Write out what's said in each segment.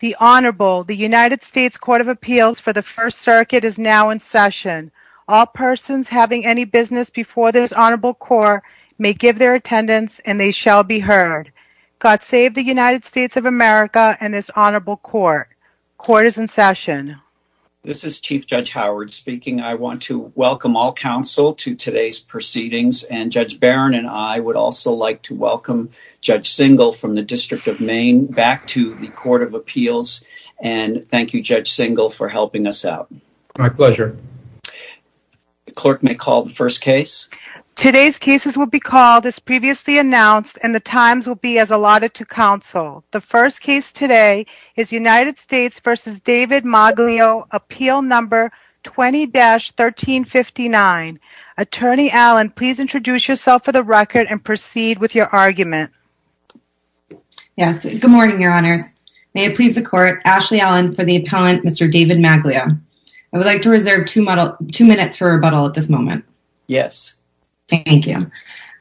The Honorable the United States Court of Appeals for the First Circuit is now in session. All persons having any business before this Honorable Court may give their attendance and they shall be heard. God save the United States of America and this Honorable Court. Court is in session. This is Chief Judge Howard speaking. I want to welcome all counsel to today's proceedings and Judge Barron and I would also like to welcome Judge Singal from the District of Maine back to the Court of Appeals and thank you Judge Singal for helping us out. My pleasure. Clerk may call the first case. Today's cases will be called as previously announced and the times will be as allotted to counsel. The first case today is United States v. David Maglio appeal number 20-1359. Attorney Allen please introduce yourself for the record and proceed with your argument. Yes, good morning, Your Honors. May it please the Court, Ashley Allen for the appellant Mr. David Maglio. I would like to reserve two minutes for rebuttal at this moment. Yes. Thank you.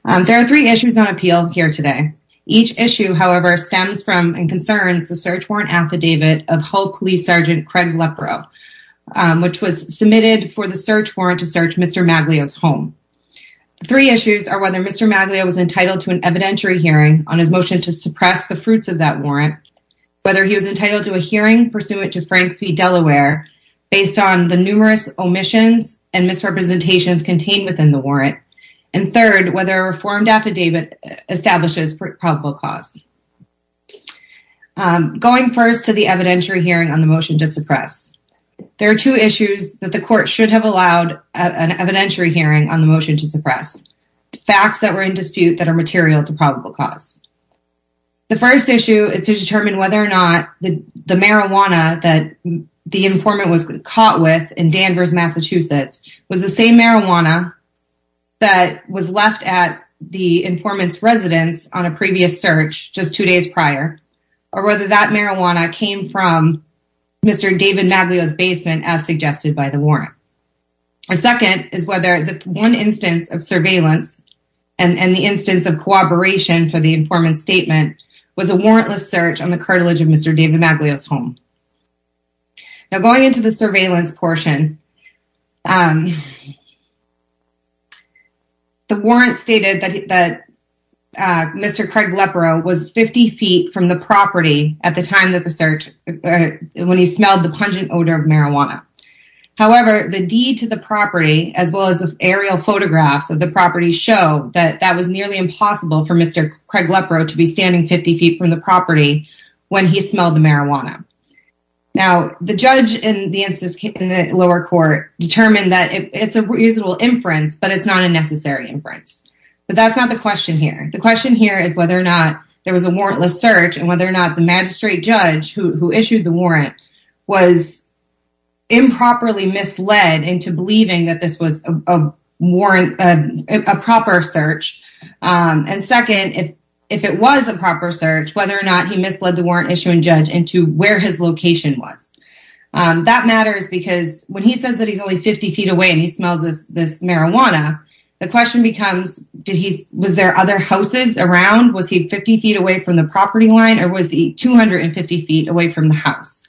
There are three issues on appeal here today. Each issue however stems from and concerns the search warrant affidavit of Hull Police Sergeant Craig Leporeau which was submitted for the search warrant to search Mr. Maglio's home. Three issues are whether Mr. Maglio was entitled to an affidavit on the search warrant, whether he was entitled to a hearing pursuant to Franks v. Delaware based on the numerous omissions and misrepresentations contained within the warrant, and third whether a reformed affidavit establishes probable cause. Going first to the evidentiary hearing on the motion to suppress. There are two issues that the court should have allowed an evidentiary hearing on the motion to suppress. Facts that were in dispute that are material to probable cause. The first issue is to determine whether or not the marijuana that the informant was caught with in Danvers, Massachusetts was the same marijuana that was left at the informant's residence on a previous search just two days prior or whether that marijuana came from Mr. David Maglio's basement as suggested by the warrant. A second is whether the one instance of surveillance and the instance of cooperation for the informant's statement was a warrantless search on the cartilage of Mr. David Maglio's home. Now going into the surveillance portion, the warrant stated that Mr. Craig Leporeau was 50 feet from the property at the time of the search when he smelled the pungent odor of marijuana. However, the deed to the property show that that was nearly impossible for Mr. Craig Leporeau to be standing 50 feet from the property when he smelled the marijuana. Now the judge in the lower court determined that it's a reasonable inference but it's not a necessary inference. But that's not the question here. The question here is whether or not there was a warrantless search and whether or not the magistrate judge who issued the warrant was improperly misled into believing that this was a proper search. And second, if it was a proper search, whether or not he misled the warrant issuing judge into where his location was. That matters because when he says that he's only 50 feet away and he smells this marijuana, the question becomes, was there other houses around? Was he 50 feet away from the property line or was he 250 feet away from the house?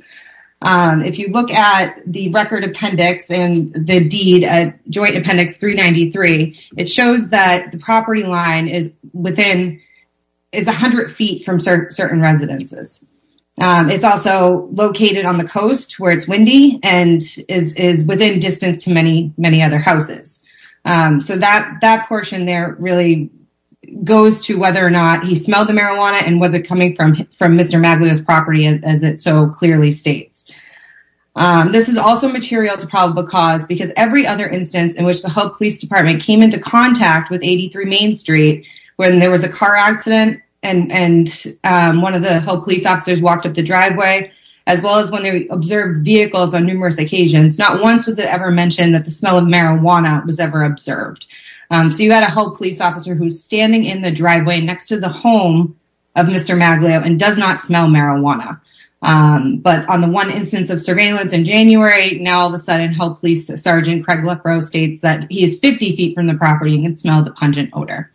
If you look at the record appendix and the deed at Joint Appendix 393, it shows that the property line is within, is a hundred feet from certain residences. It's also located on the coast where it's windy and is within distance to many, many other houses. So that portion there really goes to whether or not he smelled the marijuana and was it coming from Mr. Maglio's property as it so clearly states. This is also material to probable cause because every other instance in which the Hope Police Department came into contact with 83 Main Street when there was a car accident and one of the Hope Police officers walked up the driveway, as well as when they observed vehicles on numerous occasions, not once was it ever mentioned that the smell of marijuana was ever observed. So you had a Hope Police officer who's standing in the driveway next to the home of Mr. Maglio and does not smell marijuana. But on the one instance of surveillance in January, now all of a sudden Hope Police Sergeant Craig LaFroze states that he is 50 feet from the property and can smell the pungent odor.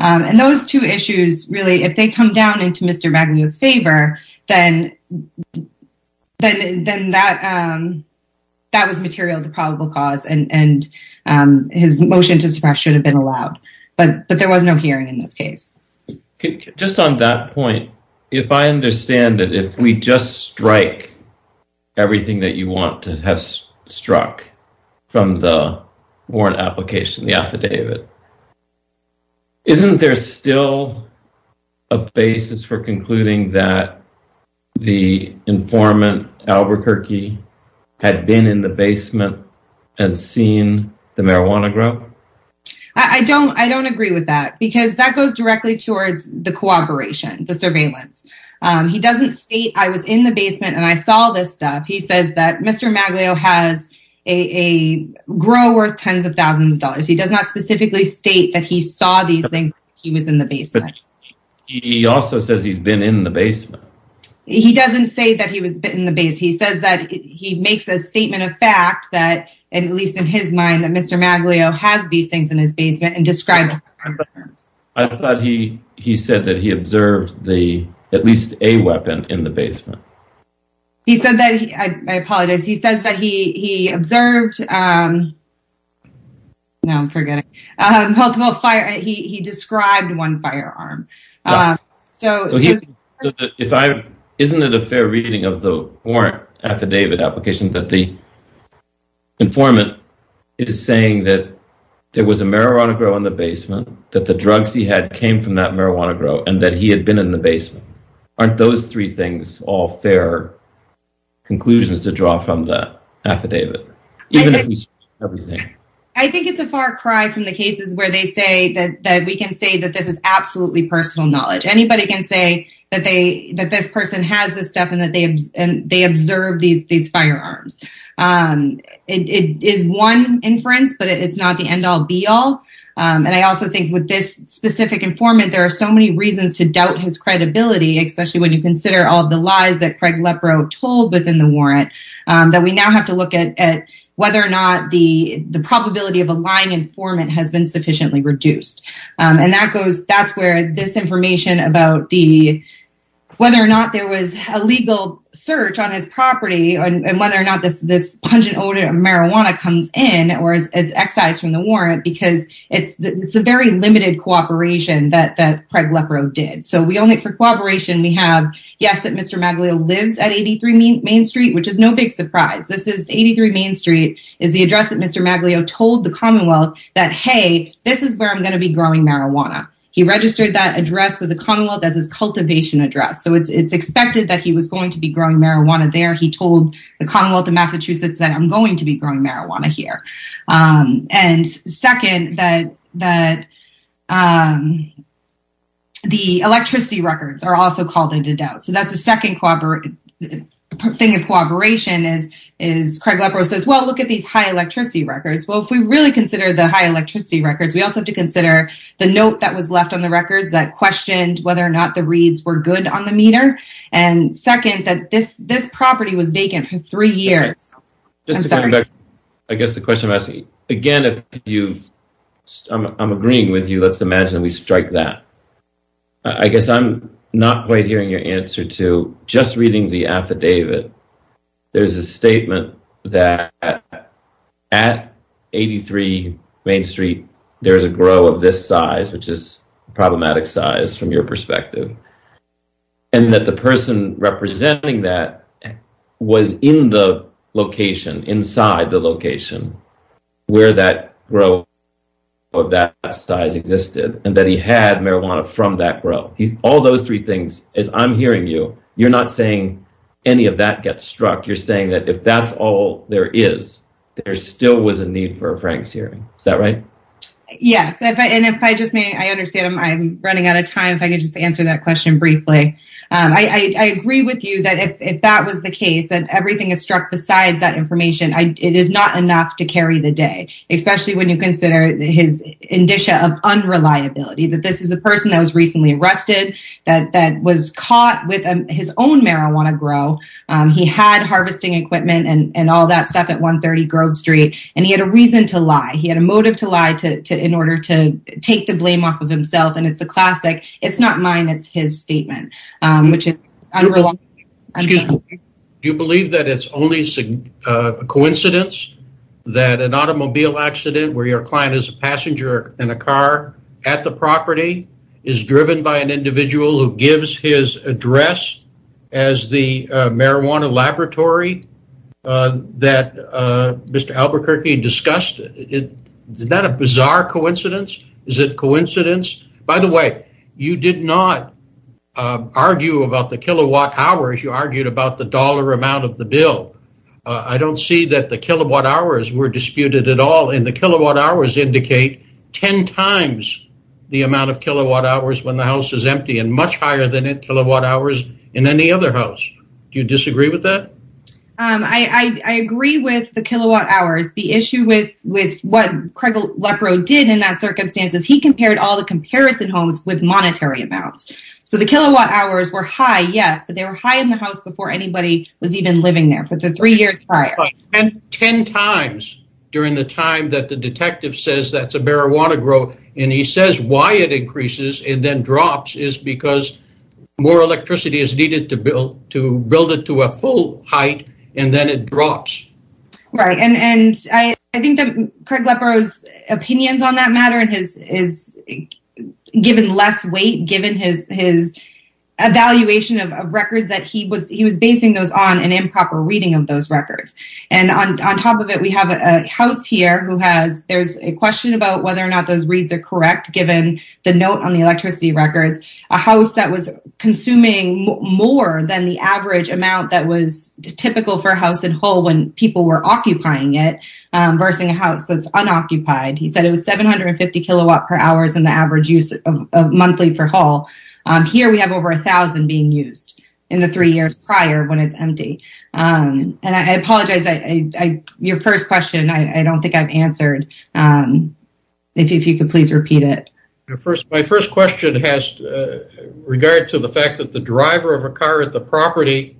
And those two issues, really, if they come down into Mr. Maglio's favor, then that was material to probable cause and his motion to suppress should have been allowed. But there was no hearing in this case. Just on that point, if I understand it, if we just strike everything that you want to have struck from the warrant application, the affidavit, isn't there still a basis for concluding that the informant Albuquerque had been in the basement and seen the marijuana grow? I don't agree with that because that goes directly towards the cooperation, the surveillance. He doesn't state, I was in the basement and I saw this stuff. He says that Mr. Maglio has a grow worth tens of thousands of dollars. He does not specifically state that he saw these things. He was in the basement. He also says he's been in the basement. He doesn't say that he was in the base. He says that he makes a statement of fact that, at least in his mind, that Mr. Maglio has these things in his basement and described. I thought he said that he observed at least a weapon in the basement. He said that, I apologize, he says that he observed, no I'm forgetting, multiple fire, he described one firearm. Isn't it a fair reading of the warrant affidavit application that the there was a marijuana grow in the basement, that the drugs he had came from that marijuana grow, and that he had been in the basement? Aren't those three things all fair conclusions to draw from the affidavit? I think it's a far cry from the cases where they say that we can say that this is absolutely personal knowledge. Anybody can say that this person has this stuff and they observed these firearms. It is one inference, but it's not the end-all be-all. I also think with this specific informant, there are so many reasons to doubt his credibility, especially when you consider all the lies that Craig Lepreau told within the warrant, that we now have to look at whether or not the the probability of a lying informant has been sufficiently reduced. That's where this information about whether or not there was a legal search on his property, and whether or not this pungent odor of marijuana comes in or is excised from the warrant, because it's the very limited cooperation that Craig Lepreau did. So, for cooperation, we have, yes, that Mr. Magalio lives at 83 Main Street, which is no big surprise. This is 83 Main Street, is the address that Mr. Magalio told the Commonwealth that, hey, this is where I'm going to be growing marijuana. He registered that address with the Commonwealth as his cultivation address, so it's expected that he was going to be growing marijuana there. He told the Commonwealth of Massachusetts that, I'm going to be growing marijuana here. And second, that the electricity records are also called into doubt. So, that's a second thing of cooperation is Craig Lepreau says, well, look at these high electricity records. Well, if we really consider the high electricity records, we also have to consider the note that was left on the records that questioned whether or not the reads were good on the meter. And second, that this property was vacant for three years. I guess the question I'm asking, again, if you, I'm agreeing with you, let's imagine we strike that. I guess I'm not quite hearing your answer to just reading the affidavit. There's a statement that at 83 Main Street, there's a grow of this size, which is problematic size from your perspective, and that the person representing that was in the location, inside the location, where that grow of that size existed, and that he had marijuana from that grow. All those three things, as I'm hearing you, you're not saying any of that gets struck. You're saying that if that's all there is, there still was a need for a Frank Searing. Is that right? Yes, and if I just may, I understand I'm running out of time, if I could just answer that question briefly. I agree with you that if that was the case, that everything is struck besides that information, it is not enough to carry the day, especially when you consider his indicia of unreliability, that this is a person that was recently arrested, that was caught with his own marijuana grow. He had 130 Grove Street, and he had a reason to lie. He had a motive to lie to in order to take the blame off of himself, and it's a classic. It's not mine, it's his statement. Do you believe that it's only a coincidence that an automobile accident, where your client is a passenger in a car at the property, is driven by an individual who gives his address as the marijuana laboratory that Mr. Albuquerque discussed? Is that a bizarre coincidence? Is it coincidence? By the way, you did not argue about the kilowatt-hours, you argued about the dollar amount of the bill. I don't see that the kilowatt-hours were disputed at all, and the kilowatt-hours indicate ten times the amount of kilowatt-hours when the house is empty, and much higher than in kilowatt-hours in any other house. Do I agree with the kilowatt-hours? The issue with what Craig Lepreaux did in that circumstance is he compared all the comparison homes with monetary amounts, so the kilowatt-hours were high, yes, but they were high in the house before anybody was even living there for the three years prior. Ten times during the time that the detective says that's a marijuana grow, and he says why it increases and then drops is because more electricity is needed to build it to a full height, and then it drops. Right, and I think that Craig Lepreaux's opinions on that matter is given less weight given his evaluation of records that he was basing those on an improper reading of those records, and on top of it we have a house here who has, there's a question about whether or not those reads are correct given the note on the electricity records, a house that was consuming more than the average amount that was typical for a house in Hull when people were occupying it versus a house that's unoccupied. He said it was 750 kilowatt-hours in the average use of monthly for Hull. Here we have over a thousand being used in the three years prior when it's empty, and I apologize, your first question I don't think I've answered. If you could please repeat it. My first question has regard to the fact that the driver of a car at the property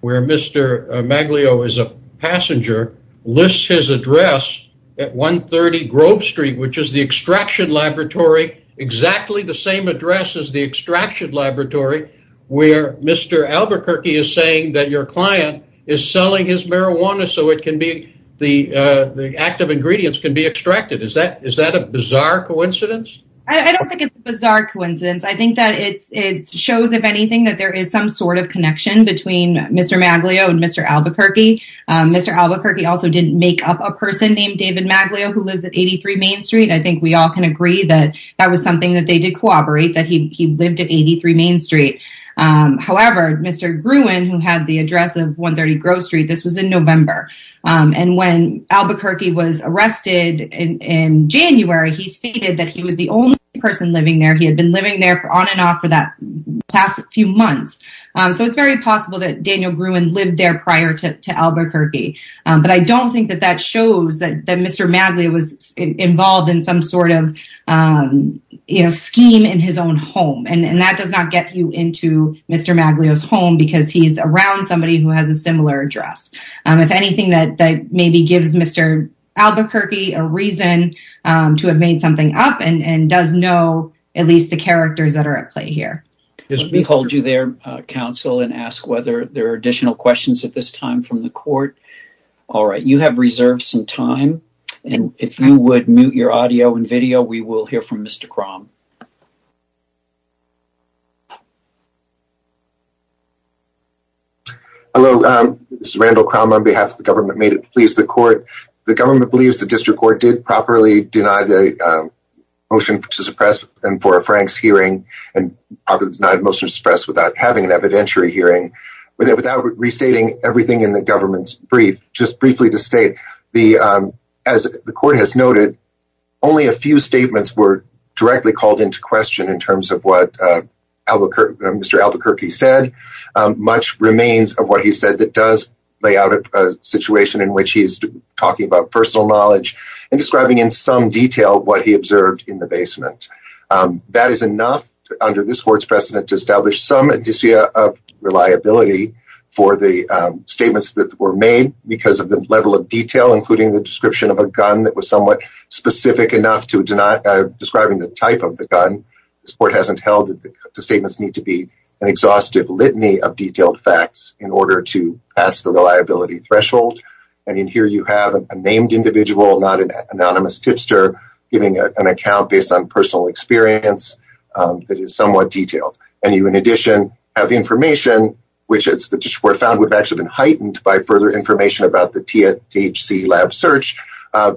where Mr. Maglio is a passenger lists his address at 130 Grove Street, which is the extraction laboratory, exactly the same address as the extraction laboratory where Mr. Albuquerque is saying that your client is selling his marijuana so it can be, the active ingredients can be Mr. Maglio and Mr. Albuquerque. Mr. Albuquerque also didn't make up a person named David Maglio who lives at 83 Main Street. I think we all can agree that that was something that they did cooperate, that he lived at 83 Main Street. However, Mr. Gruen, who had the address of 130 Grove Street, this was in November, and when Albuquerque was arrested in January, he stated that he was selling his marijuana at 130 Grove Street, which is the extraction laboratory, exactly the same address as the extraction laboratory where Mr. Albuquerque is saying that your client is selling his marijuana so it can be, the active ingredients can be, the active ingredients can be Mr. Albuquerque. However, Mr. Maglio, who had the address of 130 Grove Street, this was in November, and when Albuquerque was arrested in January, he stated that he was the only person living there. He had been living there on and off for that past few months. So it's very possible that Daniel Gruen lived there prior to Albuquerque. But I don't think that that shows that Mr. Maglio was involved in some sort of scheme in his own home. And that does not get you into Mr. Maglio's home because he is around somebody who has a similar address. If anything that maybe gives Mr. Albuquerque a reason to have made something up, I think that that's a good thing to do. And he's a very good guy. He's a good guy. He knows how to set things up and does know, at least the characters that are at play here. Let me hold you there, counsel, and ask whether there are additional questions at this time from the court. All right. You have reserved some time. And if you would mute your audio and video, we will hear from Mr. Crom. Hello. This is Randall Crom on behalf of the government. May it please the court. The government believes the district court did properly deny the motion to suppress and for a Franks hearing and probably denied motion to suppress without having an evidentiary hearing without restating everything in the government's brief. Just briefly to state the as the court has noted, only a few statements were directly called into question in terms of what Mr. Albuquerque said. Much remains of what he said that does lay out a situation in which he is talking about personal knowledge and describing in some detail what he observed in the basement. That is enough under this court's precedent to establish some indicia of reliability for the statements that were made because of the level of detail, including the description of a gun that was somewhat specific enough to deny describing the type of the gun. This court hasn't held that the statements need to be an exhaustive litany of detailed facts in order to pass the reliability threshold. And in here you have a named individual, not an anonymous tipster, giving an account based on personal experience that is somewhat detailed. And you in addition have information, which is the district court found would have actually been heightened by further information about the THC lab search,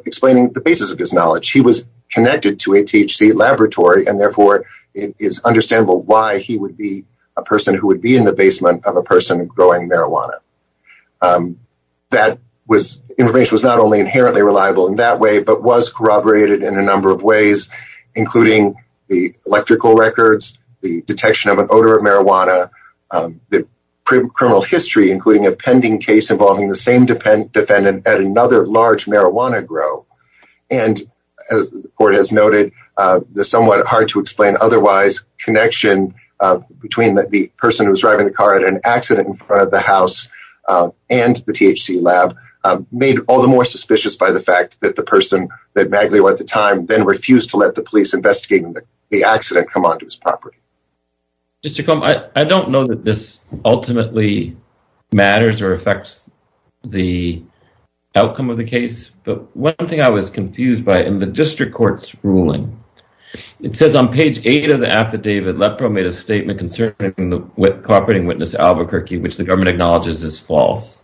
explaining the basis of his knowledge. He was connected to a THC laboratory and therefore it is understandable why he would be a person who would be in the basement of a person growing marijuana. That was information was not only inherently reliable in that way, but was corroborated in a number of ways, including the electrical records, the detection of an odor of marijuana. The criminal history, including a pending case involving the same defendant at another large marijuana grow. And as the court has noted, the somewhat hard to explain otherwise connection between the person who was driving the car at an accident in front of the house and the THC lab made all the more suspicious by the fact that the person that Maglio at the time then refused to let the police investigating the accident come onto his property. I don't know that this ultimately matters or affects the outcome of the case. But one thing I was confused by in the district court's ruling, it says on page eight of the affidavit, LEPRO made a statement concerning the cooperating witness Albuquerque, which the government acknowledges is false.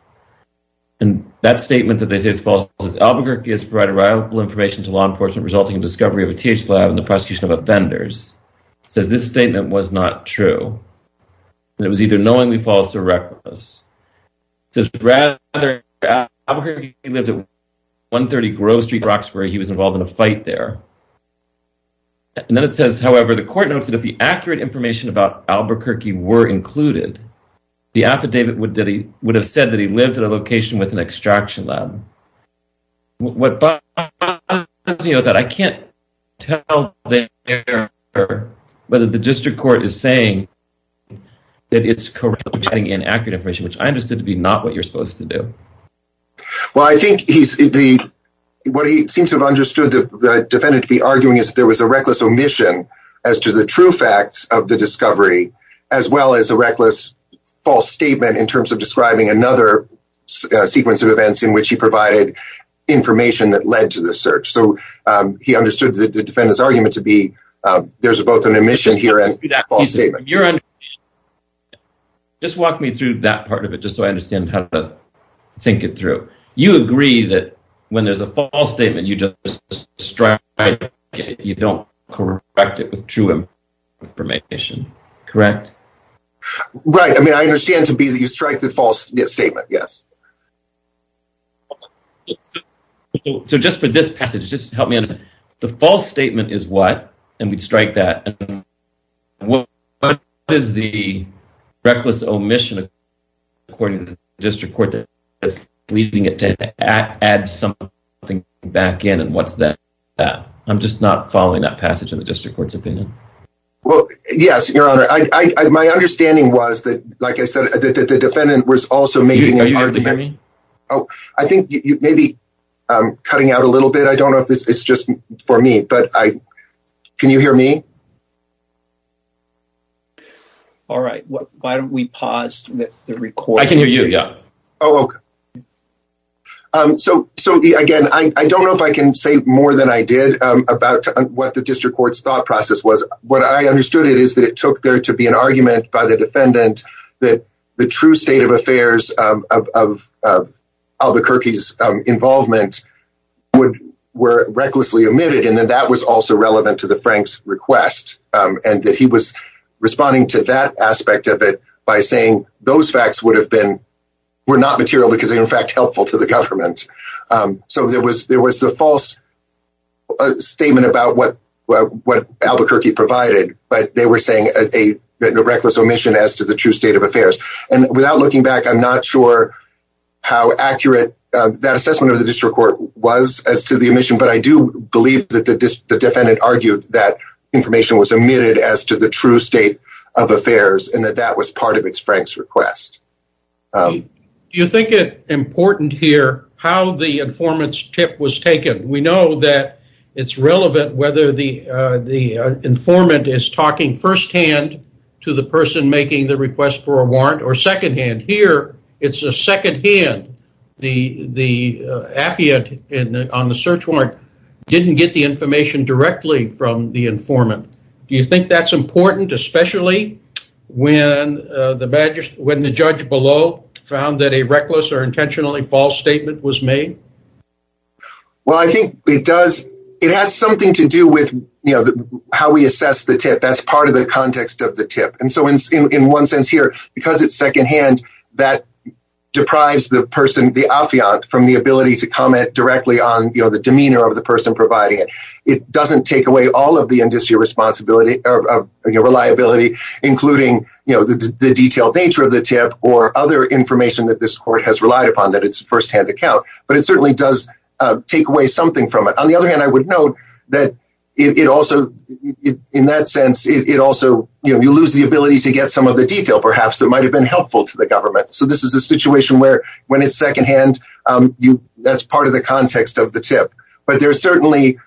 And that statement that they say is false is Albuquerque has provided reliable information to law enforcement resulting in discovery of a THC lab and the prosecution of offenders. It says this statement was not true. It was either knowingly false or reckless. It says Albuquerque lives at 130 Grove Street, Roxbury. He was involved in a fight there. And then it says, however, the court notes that if the accurate information about Albuquerque were included, the affidavit would that he would have said that he lived in a location with an extraction lab. But I can't tell whether the district court is saying that it's correct and accurate information, which I understood to be not what you're supposed to do. Well, I think he's the what he seems to have understood the defendant to be arguing is there was a reckless omission as to the true facts of the discovery, as well as a reckless false statement in terms of describing another sequence of events in which he provided information that led to the search. So he understood the defendant's argument to be there's both an omission here and false statement. Just walk me through that part of it, just so I understand how to think it through. You agree that when there's a false statement, you just strike it. You don't correct it with true information. Correct. Right. I mean, I understand to be that you strike the false statement. Yes. So just for this passage, just help me understand the false statement is what? And we'd strike that. What is the reckless omission according to the district court that is leading it to add something back in? And what's that? I'm just not following that passage of the district court's opinion. Well, yes, your honor, I my understanding was that, like I said, the defendant was also making an argument. Oh, I think maybe I'm cutting out a little bit. I don't know if it's just for me, but I can you hear me? All right. Why don't we pause the record? I can hear you. Yeah. So. So again, I don't know if I can say more than I did about what the district court's thought process was. What I understood it is that it took there to be an argument by the defendant that the true state of affairs of Albuquerque's involvement would were recklessly omitted. And then that was also relevant to the Frank's request and that he was responding to that aspect of it by saying those facts would have been were not material because, in fact, helpful to the government. So there was there was the false statement about what what Albuquerque provided. But they were saying a reckless omission as to the true state of affairs. And without looking back, I'm not sure how accurate that assessment of the district court was as to the omission. But I do believe that the defendant argued that information was omitted as to the true state of affairs and that that was part of its Frank's request. Do you think it important here how the informants tip was taken? We know that it's relevant whether the the informant is talking firsthand to the person making the request for a warrant or secondhand here. It's a second hand. The the affidavit on the search warrant didn't get the information directly from the informant. Do you think that's important, especially when the when the judge below found that a reckless or intentionally false statement was made? Well, I think it does. It has something to do with how we assess the tip as part of the context of the tip. And so in one sense here, because it's secondhand, that deprives the person, the affidavit from the ability to comment directly on the demeanor of the person providing it. It doesn't take away all of the industry responsibility of reliability, including the detailed nature of the tip or other information that this court has relied upon that it's firsthand account. But it certainly does take away something from it. On the other hand, I would note that it also in that sense, it also you lose the ability to get some of the detail, perhaps that might have been helpful to the government. So this is a situation where when it's secondhand, that's part of the context of the tip. But there's certainly,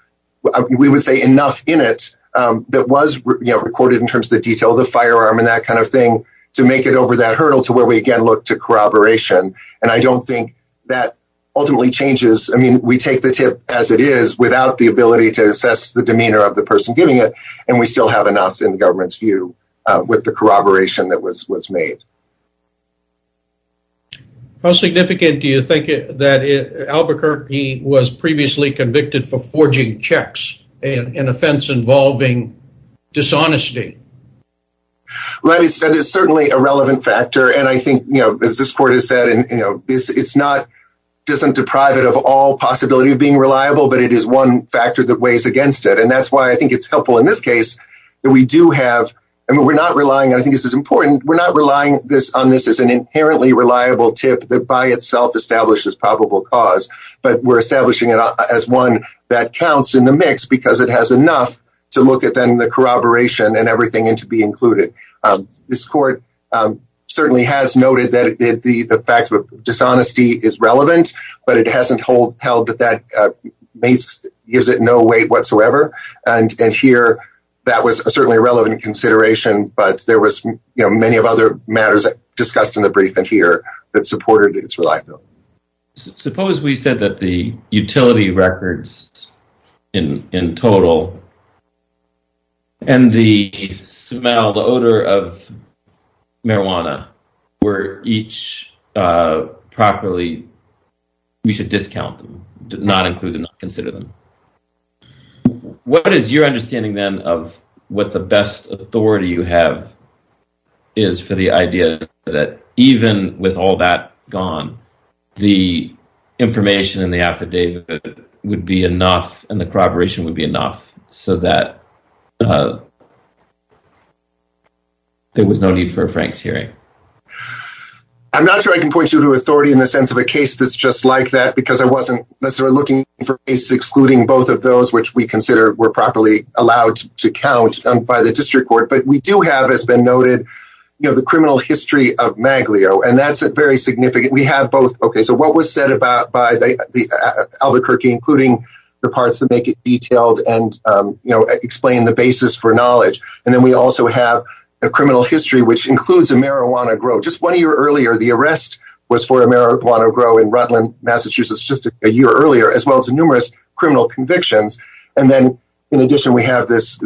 we would say, enough in it that was recorded in terms of the detail of the firearm and that kind of thing to make it over that hurdle to where we again look to corroboration. And I don't think that ultimately changes. I mean, we take the tip as it is without the ability to assess the demeanor of the person giving it. And we still have enough in the government's view with the corroboration that was made. How significant do you think that Albuquerque was previously convicted for forging checks, an offense involving dishonesty? That is certainly a relevant factor. And I think, you know, as this court has said, and, you know, it's not doesn't deprive it of all possibility of being reliable, but it is one factor that weighs against it. And that's why I think it's helpful in this case that we do have. I mean, we're not relying. I think this is important. We're not relying on this as an inherently reliable tip that by itself establishes probable cause. But we're establishing it as one that counts in the mix because it has enough to look at then the corroboration and everything and to be included. This court certainly has noted that the facts of dishonesty is relevant, but it hasn't held that that gives it no weight whatsoever. And here that was certainly a relevant consideration. But there was many of other matters discussed in the briefing here that supported its reliability. Suppose we said that the utility records in total. And the smell, the odor of marijuana were each properly. We should discount them, not include them, not consider them. What is your understanding, then, of what the best authority you have is for the idea that even with all that gone, the information in the affidavit would be enough and the corroboration would be enough so that there was no need for Frank's hearing. I'm not sure I can point you to authority in the sense of a case that's just like that, because I wasn't necessarily looking for excluding both of those which we consider were properly allowed to count by the district court. But we do have, as been noted, the criminal history of Maglio, and that's a very significant. We have both. OK, so what was said about by the Albuquerque, including the parts that make it detailed and explain the basis for knowledge. And then we also have a criminal history, which includes a marijuana grow. Just one year earlier, the arrest was for a marijuana grow in Rutland, Massachusetts, just a year earlier, as well as numerous criminal convictions. And then, in addition, we have this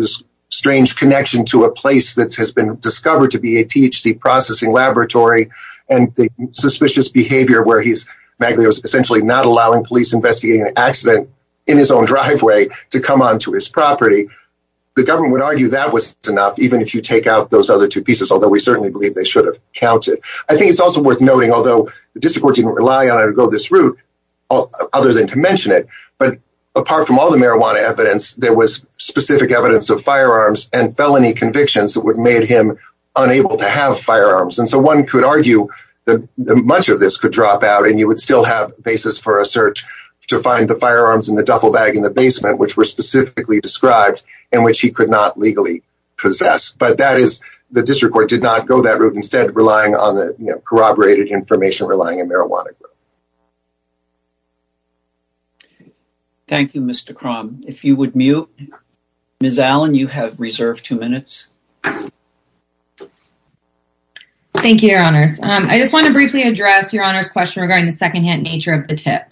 strange connection to a place that has been discovered to be a THC processing laboratory and the suspicious behavior where he's essentially not allowing police investigating an accident in his own driveway to come onto his property. The government would argue that was enough, even if you take out those other two pieces, although we certainly believe they should have counted. I think it's also worth noting, although the district court didn't rely on it to go this route, other than to mention it. But apart from all the marijuana evidence, there was specific evidence of firearms and felony convictions that would made him unable to have firearms. And so one could argue that much of this could drop out and you would still have basis for a search to find the firearms in the duffel bag in the basement, which were specifically described in which he could not legally possess. But that is the district court did not go that route. Instead, relying on the corroborated information, relying on marijuana. Thank you, Mr. Crom. If you would mute. Ms. Allen, you have reserved two minutes. Thank you, Your Honors. I just want to briefly address Your Honor's question regarding the secondhand nature of the tip.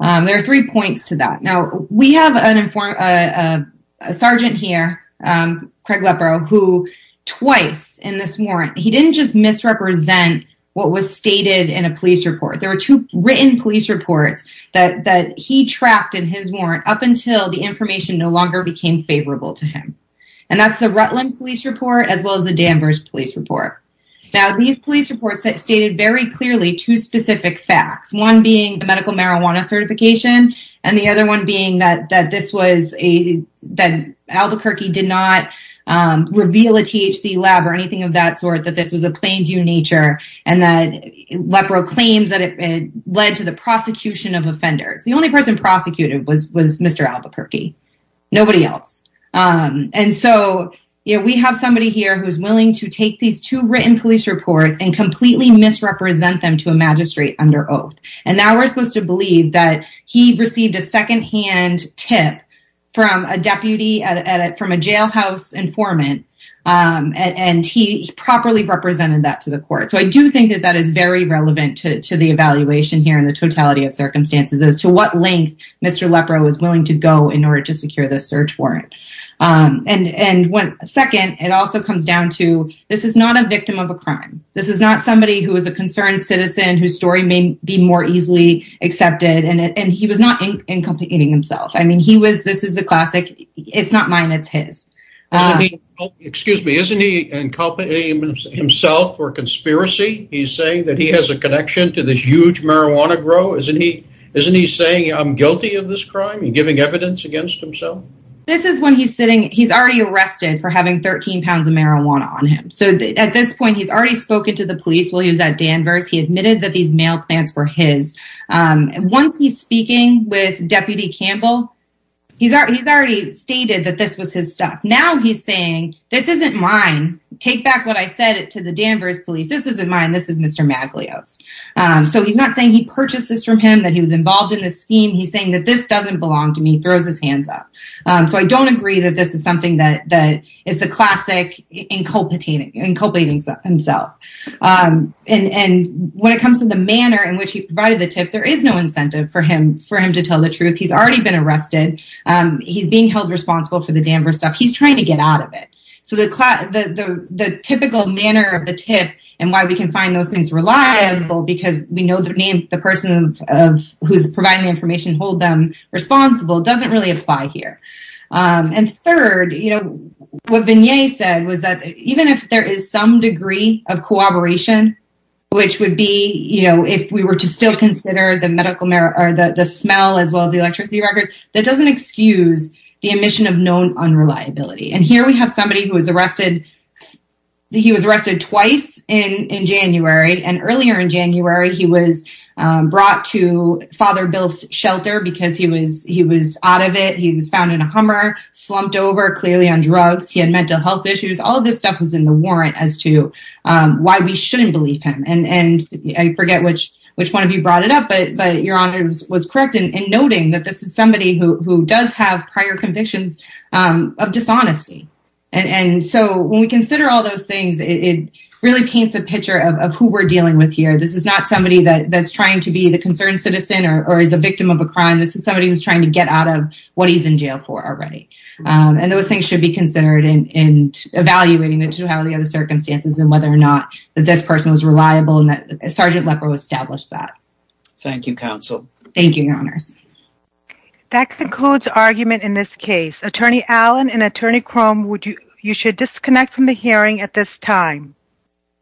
There are three points to that. Now, we have a sergeant here, Craig Leporeau, who twice in this warrant, he didn't just misrepresent what was stated in a police report. There were two written police reports that he trapped in his warrant up until the information no longer became favorable to him. And that's the Rutland police report, as well as the Danvers police report. Now, these police reports stated very clearly two specific facts, one being the medical marijuana certification and the other one being that this was a that Albuquerque did not reveal a THC lab or anything of that sort, that this was a plain due nature. And that Leporeau claims that it led to the prosecution of offenders. The only person prosecuted was was Mr. Albuquerque, nobody else. And so, you know, we have somebody here who's willing to take these two written police reports and completely misrepresent them to a magistrate under oath. And now we're supposed to believe that he received a secondhand tip from a deputy, from a jailhouse informant, and he properly represented that to the court. So I do think that that is very relevant to the evaluation here in the totality of circumstances as to what length Mr. Leporeau was willing to go in order to secure the search warrant. And second, it also comes down to this is not a victim of a crime. This is not somebody who is a concerned citizen whose story may be more easily accepted. And he was not inculpating himself. I mean, he was. This is a classic. It's not mine. It's his. Excuse me. Isn't he inculpating himself for conspiracy? He's saying that he has a connection to this huge marijuana grow. Isn't he? Isn't he saying I'm guilty of this crime and giving evidence against himself? This is when he's sitting. He's already arrested for having 13 pounds of marijuana on him. So at this point, he's already spoken to the police while he was at Danvers. He admitted that these mail plants were his. Once he's speaking with Deputy Campbell, he's already stated that this was his stuff. Now he's saying this isn't mine. Take back what I said to the Danvers police. This isn't mine. This is Mr. Maglio's. So he's not saying he purchased this from him, that he was involved in the scheme. He's saying that this doesn't belong to me, throws his hands up. So I don't agree that this is something that is the classic inculpating himself. And when it comes to the manner in which he provided the tip, there is no incentive for him to tell the truth. He's already been arrested. He's being held responsible for the Danvers stuff. He's trying to get out of it. So the typical manner of the tip and why we can find those things reliable because we know the person who's providing the information hold them responsible doesn't really apply here. And third, what Vigne said was that even if there is some degree of cooperation, which would be if we were to still consider the smell as well as the electricity record, that doesn't excuse the omission of known unreliability. And here we have somebody who was arrested. He was arrested twice in January. And earlier in January, he was brought to Father Bill's shelter because he was out of it. He was found in a Hummer, slumped over, clearly on drugs. He had mental health issues. All of this stuff was in the warrant as to why we shouldn't believe him. And I forget which one of you brought it up, but Your Honor was correct in noting that this is somebody who does have prior convictions of dishonesty. And so when we consider all those things, it really paints a picture of who we're dealing with here. This is not somebody that's trying to be the concerned citizen or is a victim of a crime. This is somebody who's trying to get out of what he's in jail for already. And those things should be considered in evaluating the circumstances and whether or not this person was reliable and that Sergeant Lepper established that. Thank you, Counsel. Thank you, Your Honors. That concludes argument in this case. Attorney Allen and Attorney Crum, you should disconnect from the hearing at this time.